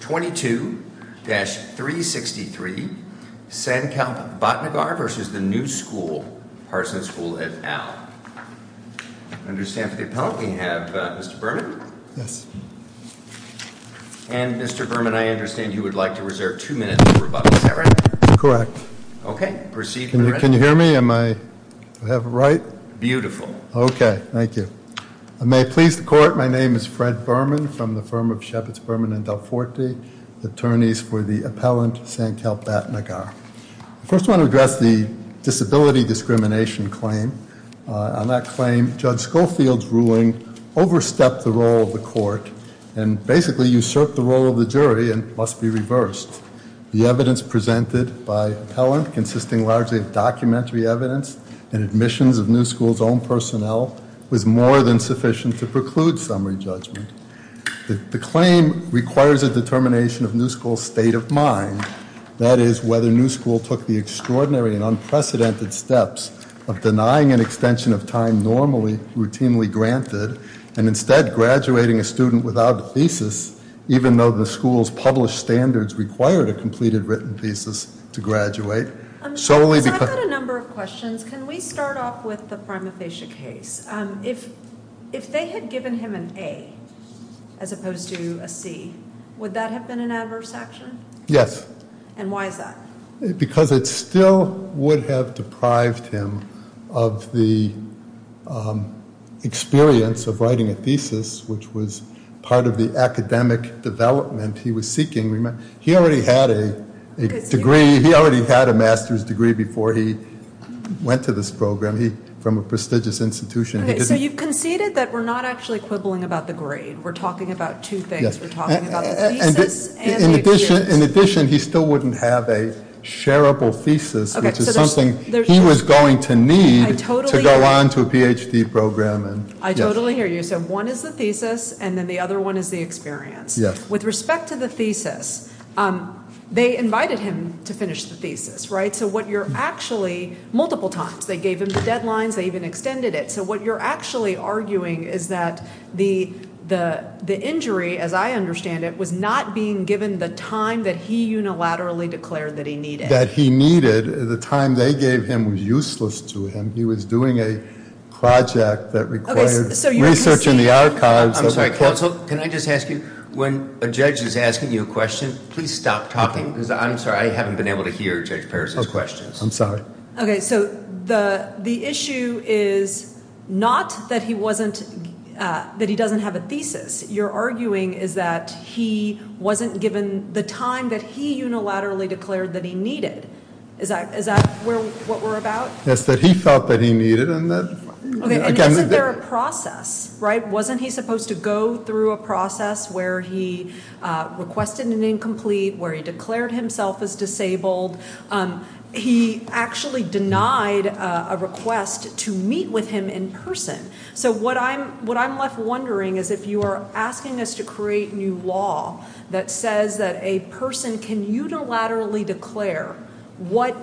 22-363 Sankalp Bhatnagar v. The New School, Parsons School, et al. I understand for the appellant we have Mr. Berman. And Mr. Berman, I understand you would like to reserve two minutes for rebuttal. Is that right? Correct. Okay, proceed. Can you hear me? Do I have it right? Beautiful. Okay, thank you. I may please the court. My name is Fred Berman from the firm of Sheppards, Berman & Dalforte, attorneys for the appellant Sankalp Bhatnagar. I first want to address the disability discrimination claim. On that claim, Judge Schofield's ruling overstepped the role of the court and basically usurped the role of the jury and must be reversed. The evidence presented by appellant, consisting largely of documentary evidence and admissions of New School's own personnel, was more than sufficient to preclude summary judgment. The claim requires a determination of New School's state of mind, that is, whether New School took the extraordinary and unprecedented steps of denying an extension of time normally routinely granted and instead graduating a student without a thesis, even though the school's published standards required a completed written thesis to graduate. I've got a number of questions. Can we start off with the prima facie case? If they had given him an A as opposed to a C, would that have been an adverse action? Yes. And why is that? Because it still would have deprived him of the experience of writing a thesis, which was part of the academic development he was seeking. He already had a master's degree before he went to this program from a prestigious institution. So you conceded that we're not actually quibbling about the grade. We're talking about two things. We're talking about the thesis and the experience. In addition, he still wouldn't have a shareable thesis, which is something he was going to need to go on to a Ph.D. program. I totally hear you. So one is the thesis and then the other one is the experience. With respect to the thesis, they invited him to finish the thesis, right? So what you're actually, multiple times, they gave him the deadlines, they even extended it. So what you're actually arguing is that the injury, as I understand it, was not being given the time that he unilaterally declared that he needed. That he needed. The time they gave him was useless to him. He was doing a project that required research in the archives. I'm sorry, counsel, can I just ask you, when a judge is asking you a question, please stop talking. I'm sorry, I haven't been able to hear Judge Peirce's questions. I'm sorry. Okay, so the issue is not that he doesn't have a thesis. You're arguing is that he wasn't given the time that he unilaterally declared that he needed. Is that what we're about? Yes, that he felt that he needed. Okay, and isn't there a process, right? He was supposed to go through a process where he requested an incomplete, where he declared himself as disabled. He actually denied a request to meet with him in person. So what I'm left wondering is if you are asking us to create new law that says that a person can unilaterally declare what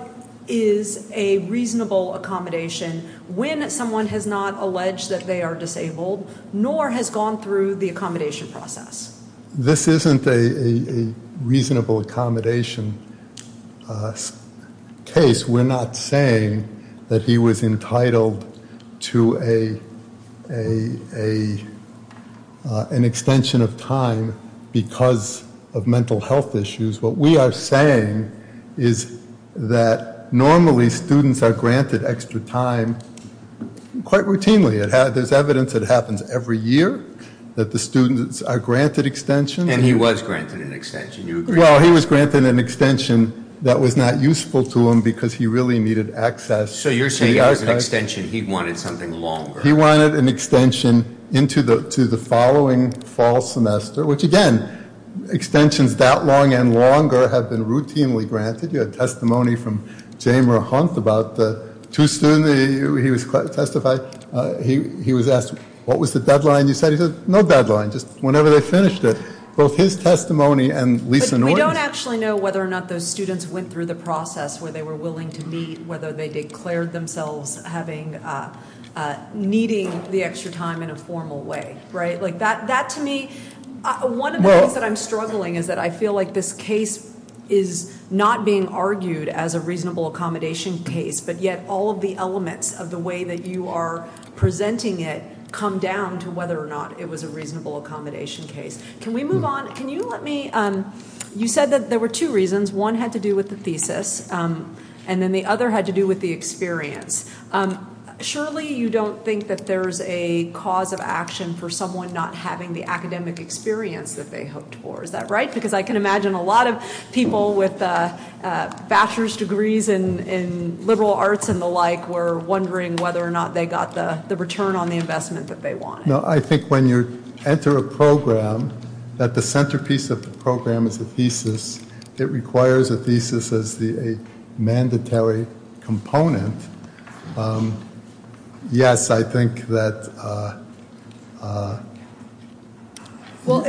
is a reasonable accommodation when someone has not alleged that they are disabled nor has gone through the accommodation process. This isn't a reasonable accommodation case. We're not saying that he was entitled to an extension of time because of mental health issues. What we are saying is that normally students are granted extra time quite routinely. There's evidence it happens every year that the students are granted extensions. And he was granted an extension. Well, he was granted an extension that was not useful to him because he really needed access. So you're saying as an extension he wanted something longer. He wanted an extension into the following fall semester, which, again, extensions that long and longer have been routinely granted. You had testimony from Jamer Hunt about the two students he was testifying. He was asked, what was the deadline you said? He said, no deadline, just whenever they finished it. Both his testimony and Lisa Norton's. But we don't actually know whether or not those students went through the process where they were willing to meet, whether they declared themselves needing the extra time in a formal way, right? That, to me, one of the things that I'm struggling is that I feel like this case is not being argued as a reasonable accommodation case, but yet all of the elements of the way that you are presenting it come down to whether or not it was a reasonable accommodation case. Can we move on? Can you let me ‑‑ you said that there were two reasons. One had to do with the thesis, and then the other had to do with the experience. Surely you don't think that there's a cause of action for someone not having the academic experience that they hoped for. Is that right? Because I can imagine a lot of people with bachelor's degrees in liberal arts and the like were wondering whether or not they got the return on the investment that they wanted. No, I think when you enter a program, that the centerpiece of the program is a thesis. It requires a thesis as a mandatory component. Yes, I think that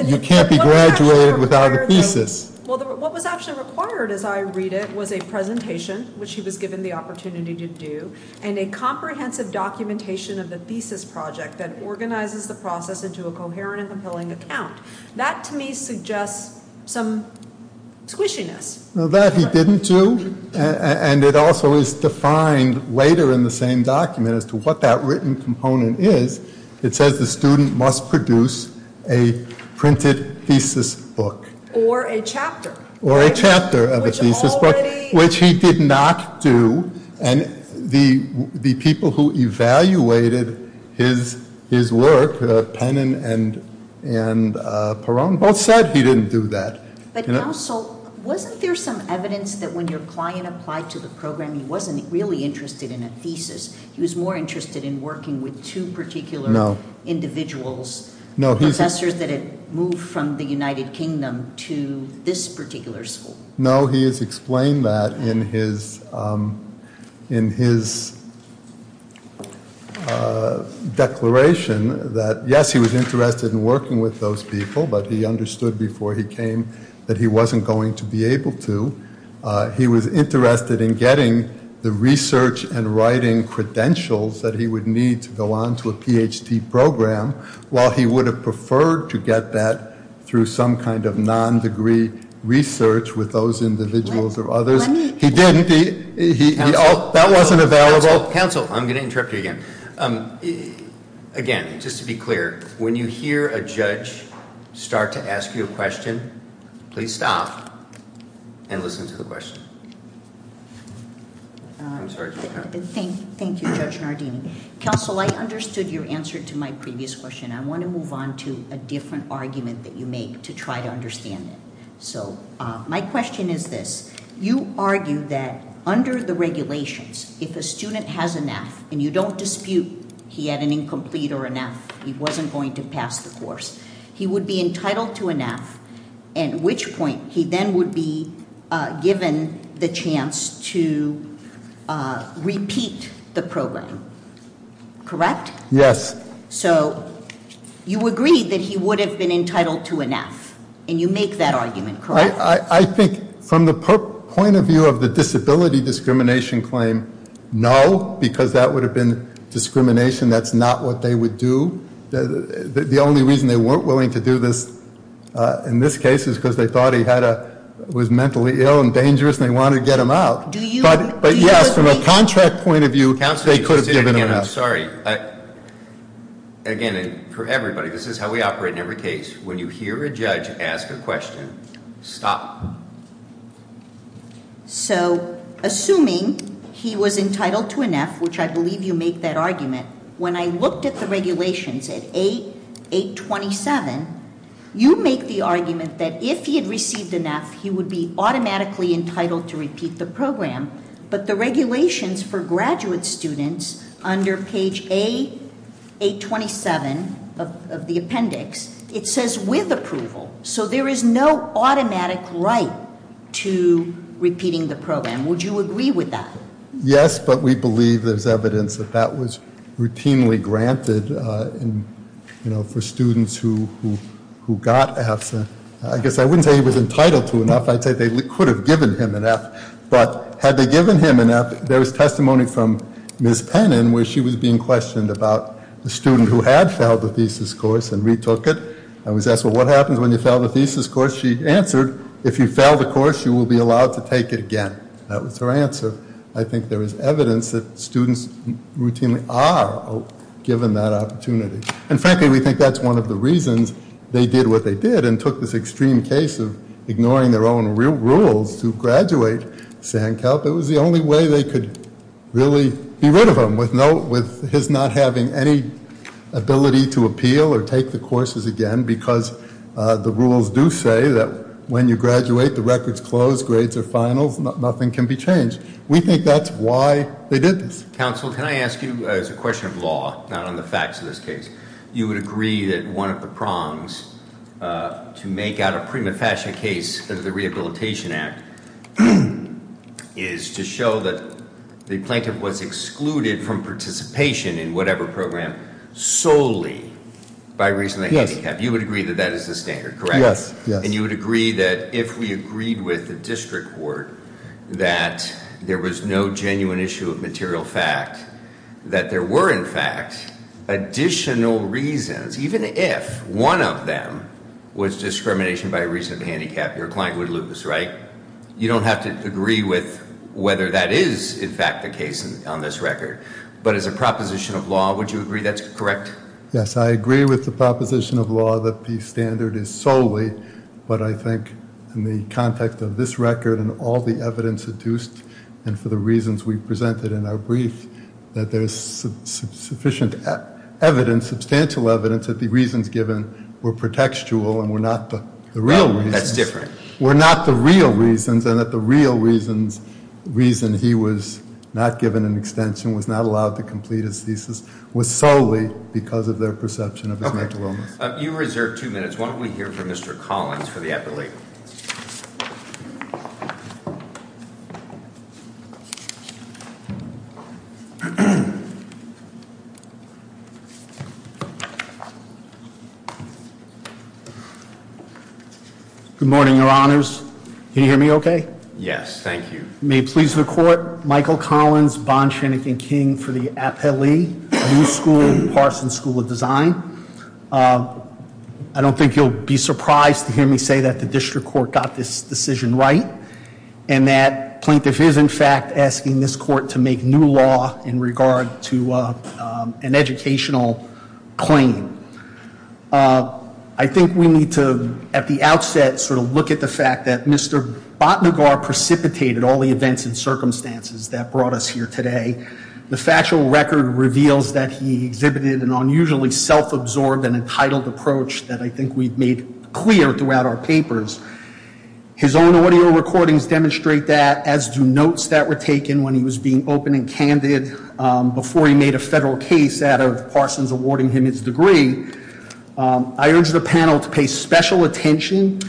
you can't be graduated without a thesis. Well, what was actually required as I read it was a presentation, which he was given the opportunity to do, and a comprehensive documentation of the thesis project that organizes the process into a coherent and compelling account. That to me suggests some squishiness. That he didn't do, and it also is defined later in the same document as to what that written component is. It says the student must produce a printed thesis book. Or a chapter. Or a chapter of a thesis book, which he did not do. And the people who evaluated his work, Penin and Peron, both said he didn't do that. But, Counsel, wasn't there some evidence that when your client applied to the program, he wasn't really interested in a thesis? He was more interested in working with two particular individuals. Professors that had moved from the United Kingdom to this particular school. No, he has explained that in his declaration. Yes, he was interested in working with those people, but he understood before he came that he wasn't going to be able to. He was interested in getting the research and writing credentials that he would need to go on to a Ph.D. program. While he would have preferred to get that through some kind of non-degree research with those individuals or others. He didn't. That wasn't available. Counsel, I'm going to interrupt you again. Again, just to be clear, when you hear a judge start to ask you a question, please stop and listen to the question. I'm sorry. Thank you, Judge Nardini. Counsel, I understood your answer to my previous question. I want to move on to a different argument that you make to try to understand it. So, my question is this. You argue that under the regulations, if a student has a NAF and you don't dispute he had an incomplete or a NAF, he wasn't going to pass the course. He would be entitled to a NAF, at which point he then would be given the chance to repeat the program. Correct? Yes. So, you agree that he would have been entitled to a NAF, and you make that argument, correct? I think from the point of view of the disability discrimination claim, no, because that would have been discrimination. That's not what they would do. The only reason they weren't willing to do this in this case is because they thought he was mentally ill and dangerous and they wanted to get him out. Do you agree? But, yes, from a contract point of view, they could have given him out. Counsel, I'm sorry. Again, for everybody, this is how we operate in every case. When you hear a judge ask a question, stop. So, assuming he was entitled to a NAF, which I believe you make that argument, when I looked at the regulations at A827, you make the argument that if he had received a NAF, he would be automatically entitled to repeat the program. But the regulations for graduate students under page A827 of the appendix, it says with approval. So, there is no automatic right to repeating the program. Would you agree with that? Yes, but we believe there's evidence that that was routinely granted for students who got NAFs. I guess I wouldn't say he was entitled to a NAF. I'd say they could have given him a NAF. But had they given him a NAF, there was testimony from Ms. Pennin where she was being questioned about the student who had failed the thesis course and retook it. And was asked, well, what happens when you fail the thesis course? She answered, if you fail the course, you will be allowed to take it again. That was her answer. I think there is evidence that students routinely are given that opportunity. And frankly, we think that's one of the reasons they did what they did and took this extreme case of ignoring their own rules to graduate Sankalp. It was the only way they could really be rid of him with his not having any ability to appeal or take the courses again. Because the rules do say that when you graduate, the record's closed, grades are finals, nothing can be changed. We think that's why they did this. Counsel, can I ask you as a question of law, not on the facts of this case. You would agree that one of the prongs to make out a prima facie case of the Rehabilitation Act is to show that the plaintiff was excluded from participation in whatever program solely by reason of handicap. Yes. You would agree that that is the standard, correct? Yes. And you would agree that if we agreed with the district court that there was no genuine issue of material fact, that there were, in fact, additional reasons, even if one of them was discrimination by reason of handicap, your client would lose, right? You don't have to agree with whether that is, in fact, the case on this record. But as a proposition of law, would you agree that's correct? Yes, I agree with the proposition of law that the standard is solely, but I think in the context of this record and all the evidence adduced, and for the reasons we presented in our brief, that there's sufficient evidence, substantial evidence that the reasons given were pretextual and were not the real reasons. That's different. Were not the real reasons, and that the real reason he was not given an extension, was not allowed to complete his thesis, was solely because of their perception of his mental illness. Okay. You reserve two minutes. Why don't we hear from Mr. Collins for the epilate? Good morning, Your Honors. Can you hear me okay? Yes. Thank you. May it please the court. Michael Collins, Bon Shanigan King for the epilate, New School, Parsons School of Design. I don't think you'll be surprised to hear me say that the district court got this decision right, and that plaintiff is, in fact, asking this court to make new law in regard to an educational claim. I think we need to, at the outset, sort of look at the fact that Mr. Batnagar precipitated all the events and circumstances that brought us here today. The factual record reveals that he exhibited an unusually self-absorbed and entitled approach that I think we've made clear throughout our papers. His own audio recordings demonstrate that, as do notes that were taken when he was being open and candid before he made a federal case out of Parsons awarding him his degree. I urge the panel to pay special attention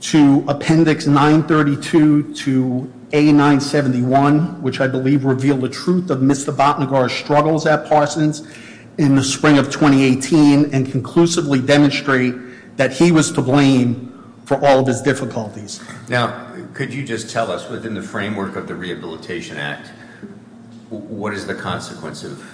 to Appendix 932 to A971, which I believe revealed the truth of Mr. Batnagar's struggles at Parsons in the spring of 2018 and conclusively demonstrate that he was to blame for all of his difficulties. Now, could you just tell us, within the framework of the Rehabilitation Act, what is the consequence of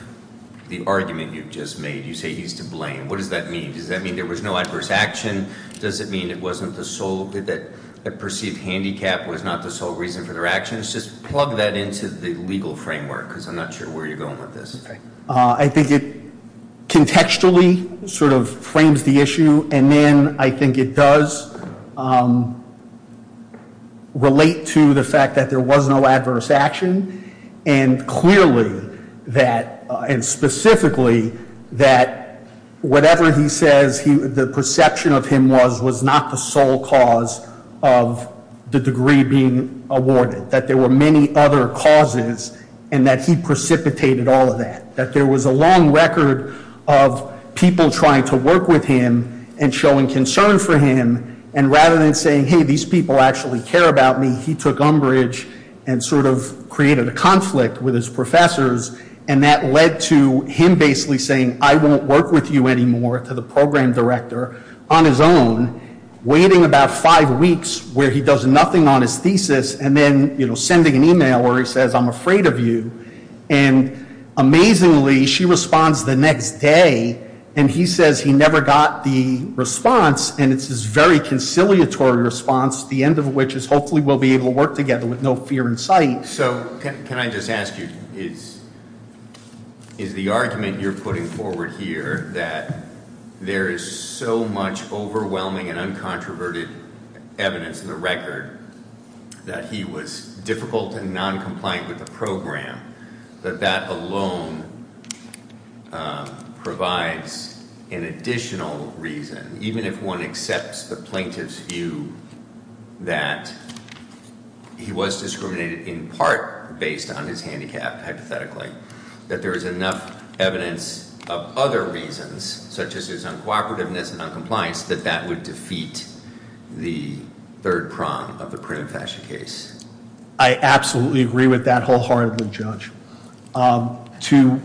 the argument you've just made? You say he's to blame. What does that mean? Does that mean there was no adverse action? Does it mean that a perceived handicap was not the sole reason for their actions? Just plug that into the legal framework, because I'm not sure where you're going with this. I think it contextually sort of frames the issue, and then I think it does relate to the fact that there was no adverse action. And clearly, and specifically, that whatever he says, the perception of him was, was not the sole cause of the degree being awarded. That there were many other causes, and that he precipitated all of that. That there was a long record of people trying to work with him and showing concern for him, and rather than saying, hey, these people actually care about me, he took umbrage and sort of created a conflict with his professors, and that led to him basically saying, I won't work with you anymore, to the program director, on his own, waiting about five weeks where he does nothing on his thesis, and then sending an email where he says, I'm afraid of you. And amazingly, she responds the next day, and he says he never got the response, and it's this very conciliatory response, the end of which is hopefully we'll be able to work together with no fear in sight. So, can I just ask you, is the argument you're putting forward here, that there is so much overwhelming and uncontroverted evidence in the record, that he was difficult and non-compliant with the program, that that alone provides an additional reason, even if one accepts the plaintiff's view that he was discriminated in part based on his handicap, hypothetically, that there is enough evidence of other reasons, such as his uncooperativeness and non-compliance, that that would defeat the third prong of the printed fashion case? To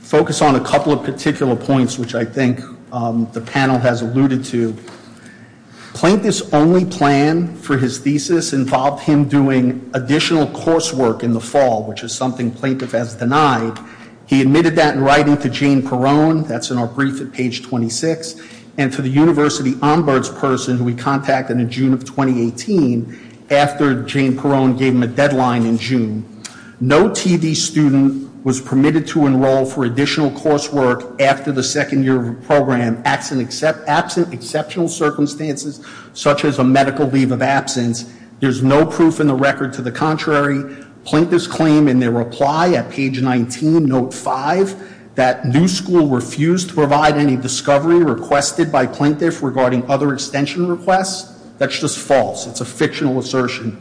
focus on a couple of particular points, which I think the panel has alluded to, plaintiff's only plan for his thesis involved him doing additional coursework in the fall, which is something plaintiff has denied. He admitted that in writing to Jane Perone, that's in our brief at page 26, and to the University Ombuds person who he contacted in June of 2018, after Jane Perone gave him a deadline in June. No TD student was permitted to enroll for additional coursework after the second year of the program, absent exceptional circumstances, such as a medical leave of absence. There's no proof in the record to the contrary. Plaintiff's claim in their reply at page 19, note 5, that New School refused to provide any discovery requested by plaintiff regarding other extension requests, that's just false. It's a fictional assertion.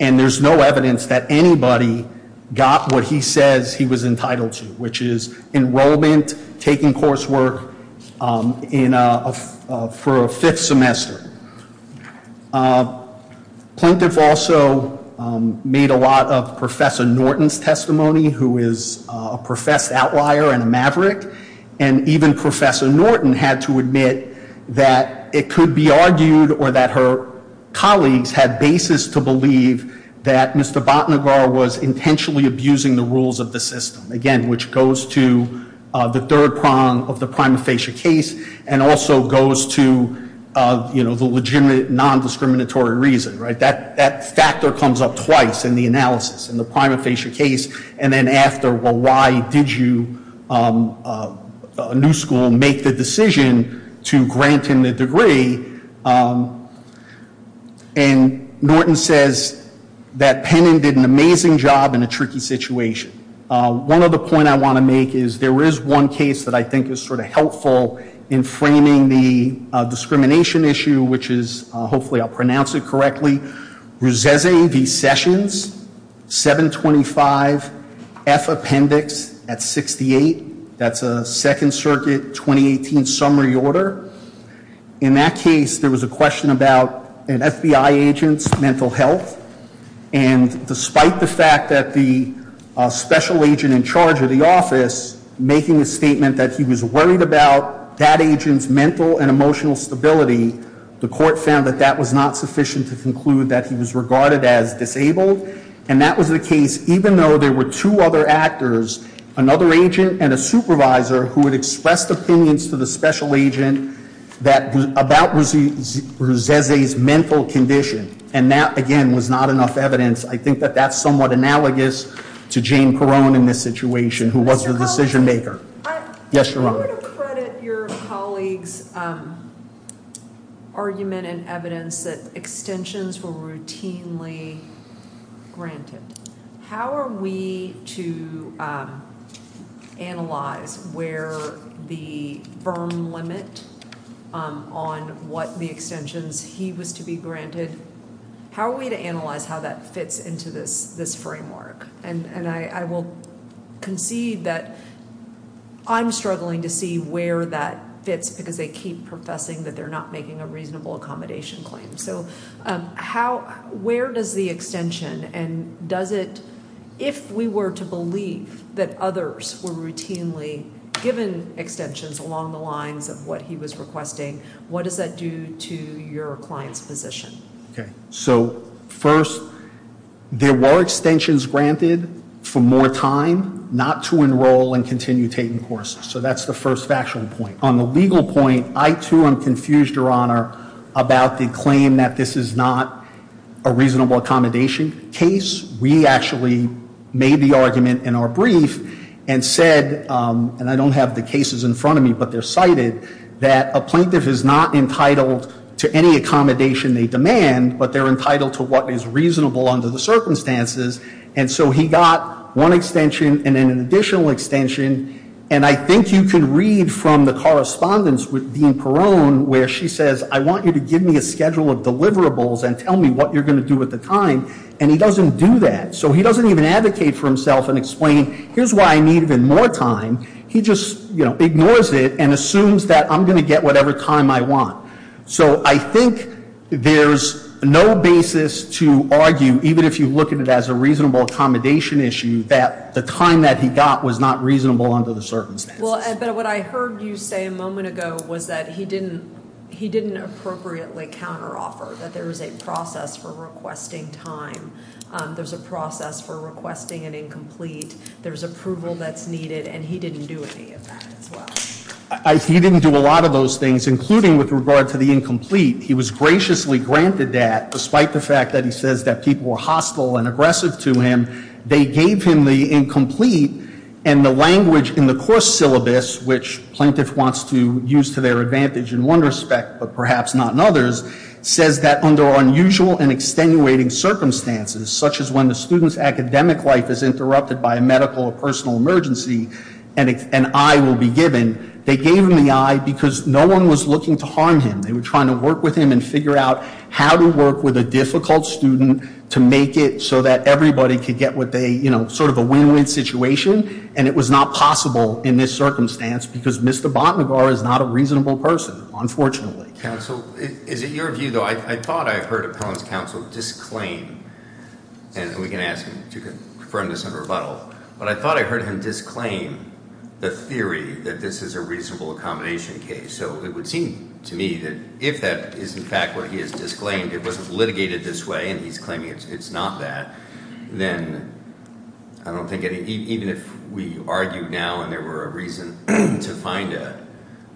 And there's no evidence that anybody got what he says he was entitled to, which is enrollment, taking coursework for a fifth semester. Plaintiff also made a lot of Professor Norton's testimony, who is a professed outlier and a maverick. And even Professor Norton had to admit that it could be argued, or that her colleagues had basis to believe that Mr. Batnagar was intentionally abusing the rules of the system. Again, which goes to the third prong of the prima facie case, and also goes to the legitimate non-discriminatory reason. That factor comes up twice in the analysis, in the prima facie case, and then after, well, why did you, New School, make the decision to grant him the degree? And Norton says that Penning did an amazing job in a tricky situation. One other point I want to make is there is one case that I think is sort of helpful in framing the discrimination issue, which is, hopefully I'll pronounce it correctly, Rosese v. Sessions, 725F Appendix at 68. That's a Second Circuit 2018 summary order. In that case, there was a question about an FBI agent's mental health. And despite the fact that the special agent in charge of the office, making a statement that he was worried about that agent's mental and emotional stability, the court found that that was not sufficient to conclude that he was regarded as disabled. And that was the case, even though there were two other actors, another agent and a supervisor who had expressed opinions to the special agent about Rosese's mental condition. And that, again, was not enough evidence. I think that that's somewhat analogous to Jane Perrone in this situation, who was the decision maker. I want to credit your colleagues' argument and evidence that extensions were routinely granted. How are we to analyze where the Berm limit on what the extensions he was to be granted, how are we to analyze how that fits into this framework? And I will concede that I'm struggling to see where that fits, because they keep professing that they're not making a reasonable accommodation claim. So where does the extension, and does it, if we were to believe that others were routinely given extensions along the lines of what he was requesting, what does that do to your client's position? Okay, so first, there were extensions granted for more time not to enroll and continue taking courses. So that's the first factual point. On the legal point, I, too, am confused, Your Honor, about the claim that this is not a reasonable accommodation case. We actually made the argument in our brief and said, and I don't have the cases in front of me, but they're cited, that a plaintiff is not entitled to any accommodation they demand, but they're entitled to what is reasonable under the circumstances. And so he got one extension and then an additional extension. And I think you can read from the correspondence with Dean Perone where she says, I want you to give me a schedule of deliverables and tell me what you're going to do with the time. And he doesn't do that. So he doesn't even advocate for himself and explain, here's why I need even more time. He just ignores it and assumes that I'm going to get whatever time I want. So I think there's no basis to argue, even if you look at it as a reasonable accommodation issue, that the time that he got was not reasonable under the circumstances. But what I heard you say a moment ago was that he didn't appropriately counteroffer, that there is a process for requesting time. There's a process for requesting an incomplete. There's approval that's needed, and he didn't do any of that as well. He didn't do a lot of those things, including with regard to the incomplete. He was graciously granted that, despite the fact that he says that people were hostile and aggressive to him. They gave him the incomplete, and the language in the course syllabus, which plaintiff wants to use to their advantage in one respect but perhaps not in others, says that under unusual and extenuating circumstances, such as when the student's academic life is interrupted by a medical or personal emergency, an eye will be given. They gave him the eye because no one was looking to harm him. They were trying to work with him and figure out how to work with a difficult student to make it so that everybody could get what they, you know, sort of a win-win situation. And it was not possible in this circumstance because Mr. Batnagar is not a reasonable person, unfortunately. Counsel, is it your view, though, I thought I heard Appellant's counsel disclaim, and we can ask him to confirm this in rebuttal, but I thought I heard him disclaim the theory that this is a reasonable accommodation case. So it would seem to me that if that is in fact what he has disclaimed, it wasn't litigated this way and he's claiming it's not that, then I don't think any, even if we argue now and there were a reason to find a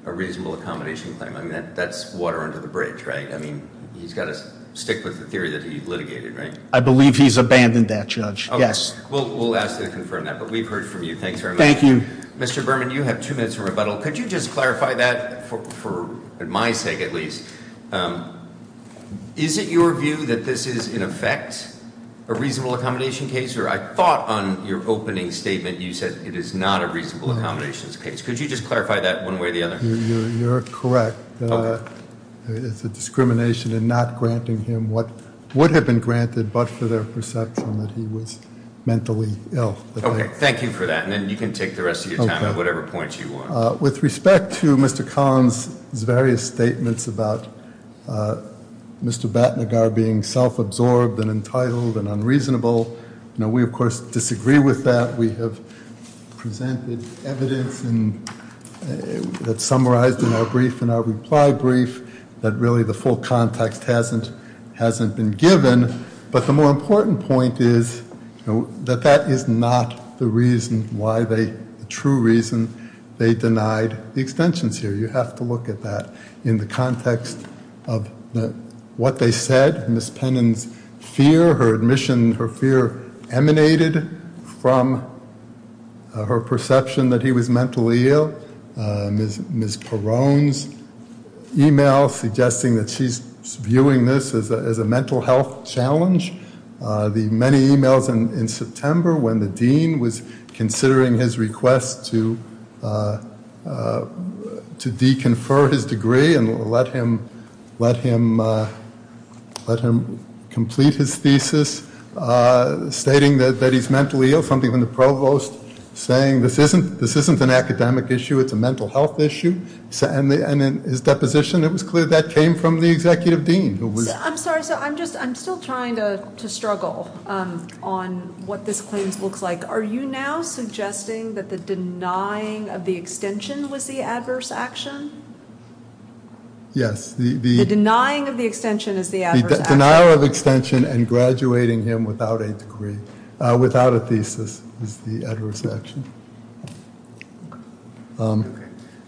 reasonable accommodation claim, I mean, that's water under the bridge, right? I mean, he's got to stick with the theory that he litigated, right? I believe he's abandoned that, Judge. Yes. We'll ask him to confirm that. But we've heard from you. Thanks very much. Thank you. Mr. Berman, you have two minutes for rebuttal. Could you just clarify that for my sake at least? Is it your view that this is in effect a reasonable accommodation case? Or I thought on your opening statement you said it is not a reasonable accommodations case. Could you just clarify that one way or the other? You're correct. It's a discrimination in not granting him what would have been granted but for their perception that he was mentally ill. Okay. Thank you for that. And then you can take the rest of your time at whatever point you want. With respect to Mr. Collins' various statements about Mr. Batnagar being self-absorbed and entitled and unreasonable, we, of course, disagree with that. We have presented evidence that's summarized in our brief and our reply brief that really the full context hasn't been given. But the more important point is that that is not the reason why they, the true reason they denied the extensions here. You have to look at that in the context of what they said. Ms. Pennin's fear, her admission, her fear emanated from her perception that he was mentally ill. Ms. Perrone's email suggesting that she's viewing this as a mental health challenge. The many emails in September when the dean was considering his request to de-confer his degree and let him complete his thesis, stating that he's mentally ill, something when the provost saying this isn't an academic issue, it's a mental health issue. And in his deposition, it was clear that came from the executive dean. I'm sorry, so I'm just, I'm still trying to struggle on what this claims looks like. Are you now suggesting that the denying of the extension was the adverse action? Yes. The denying of the extension is the adverse action. The denial of extension and graduating him without a degree, without a thesis, is the adverse action. Okay.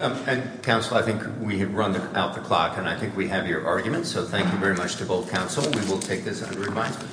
And, counsel, I think we have run out the clock, and I think we have your arguments, so thank you very much to both counsel. We will take this under advisement.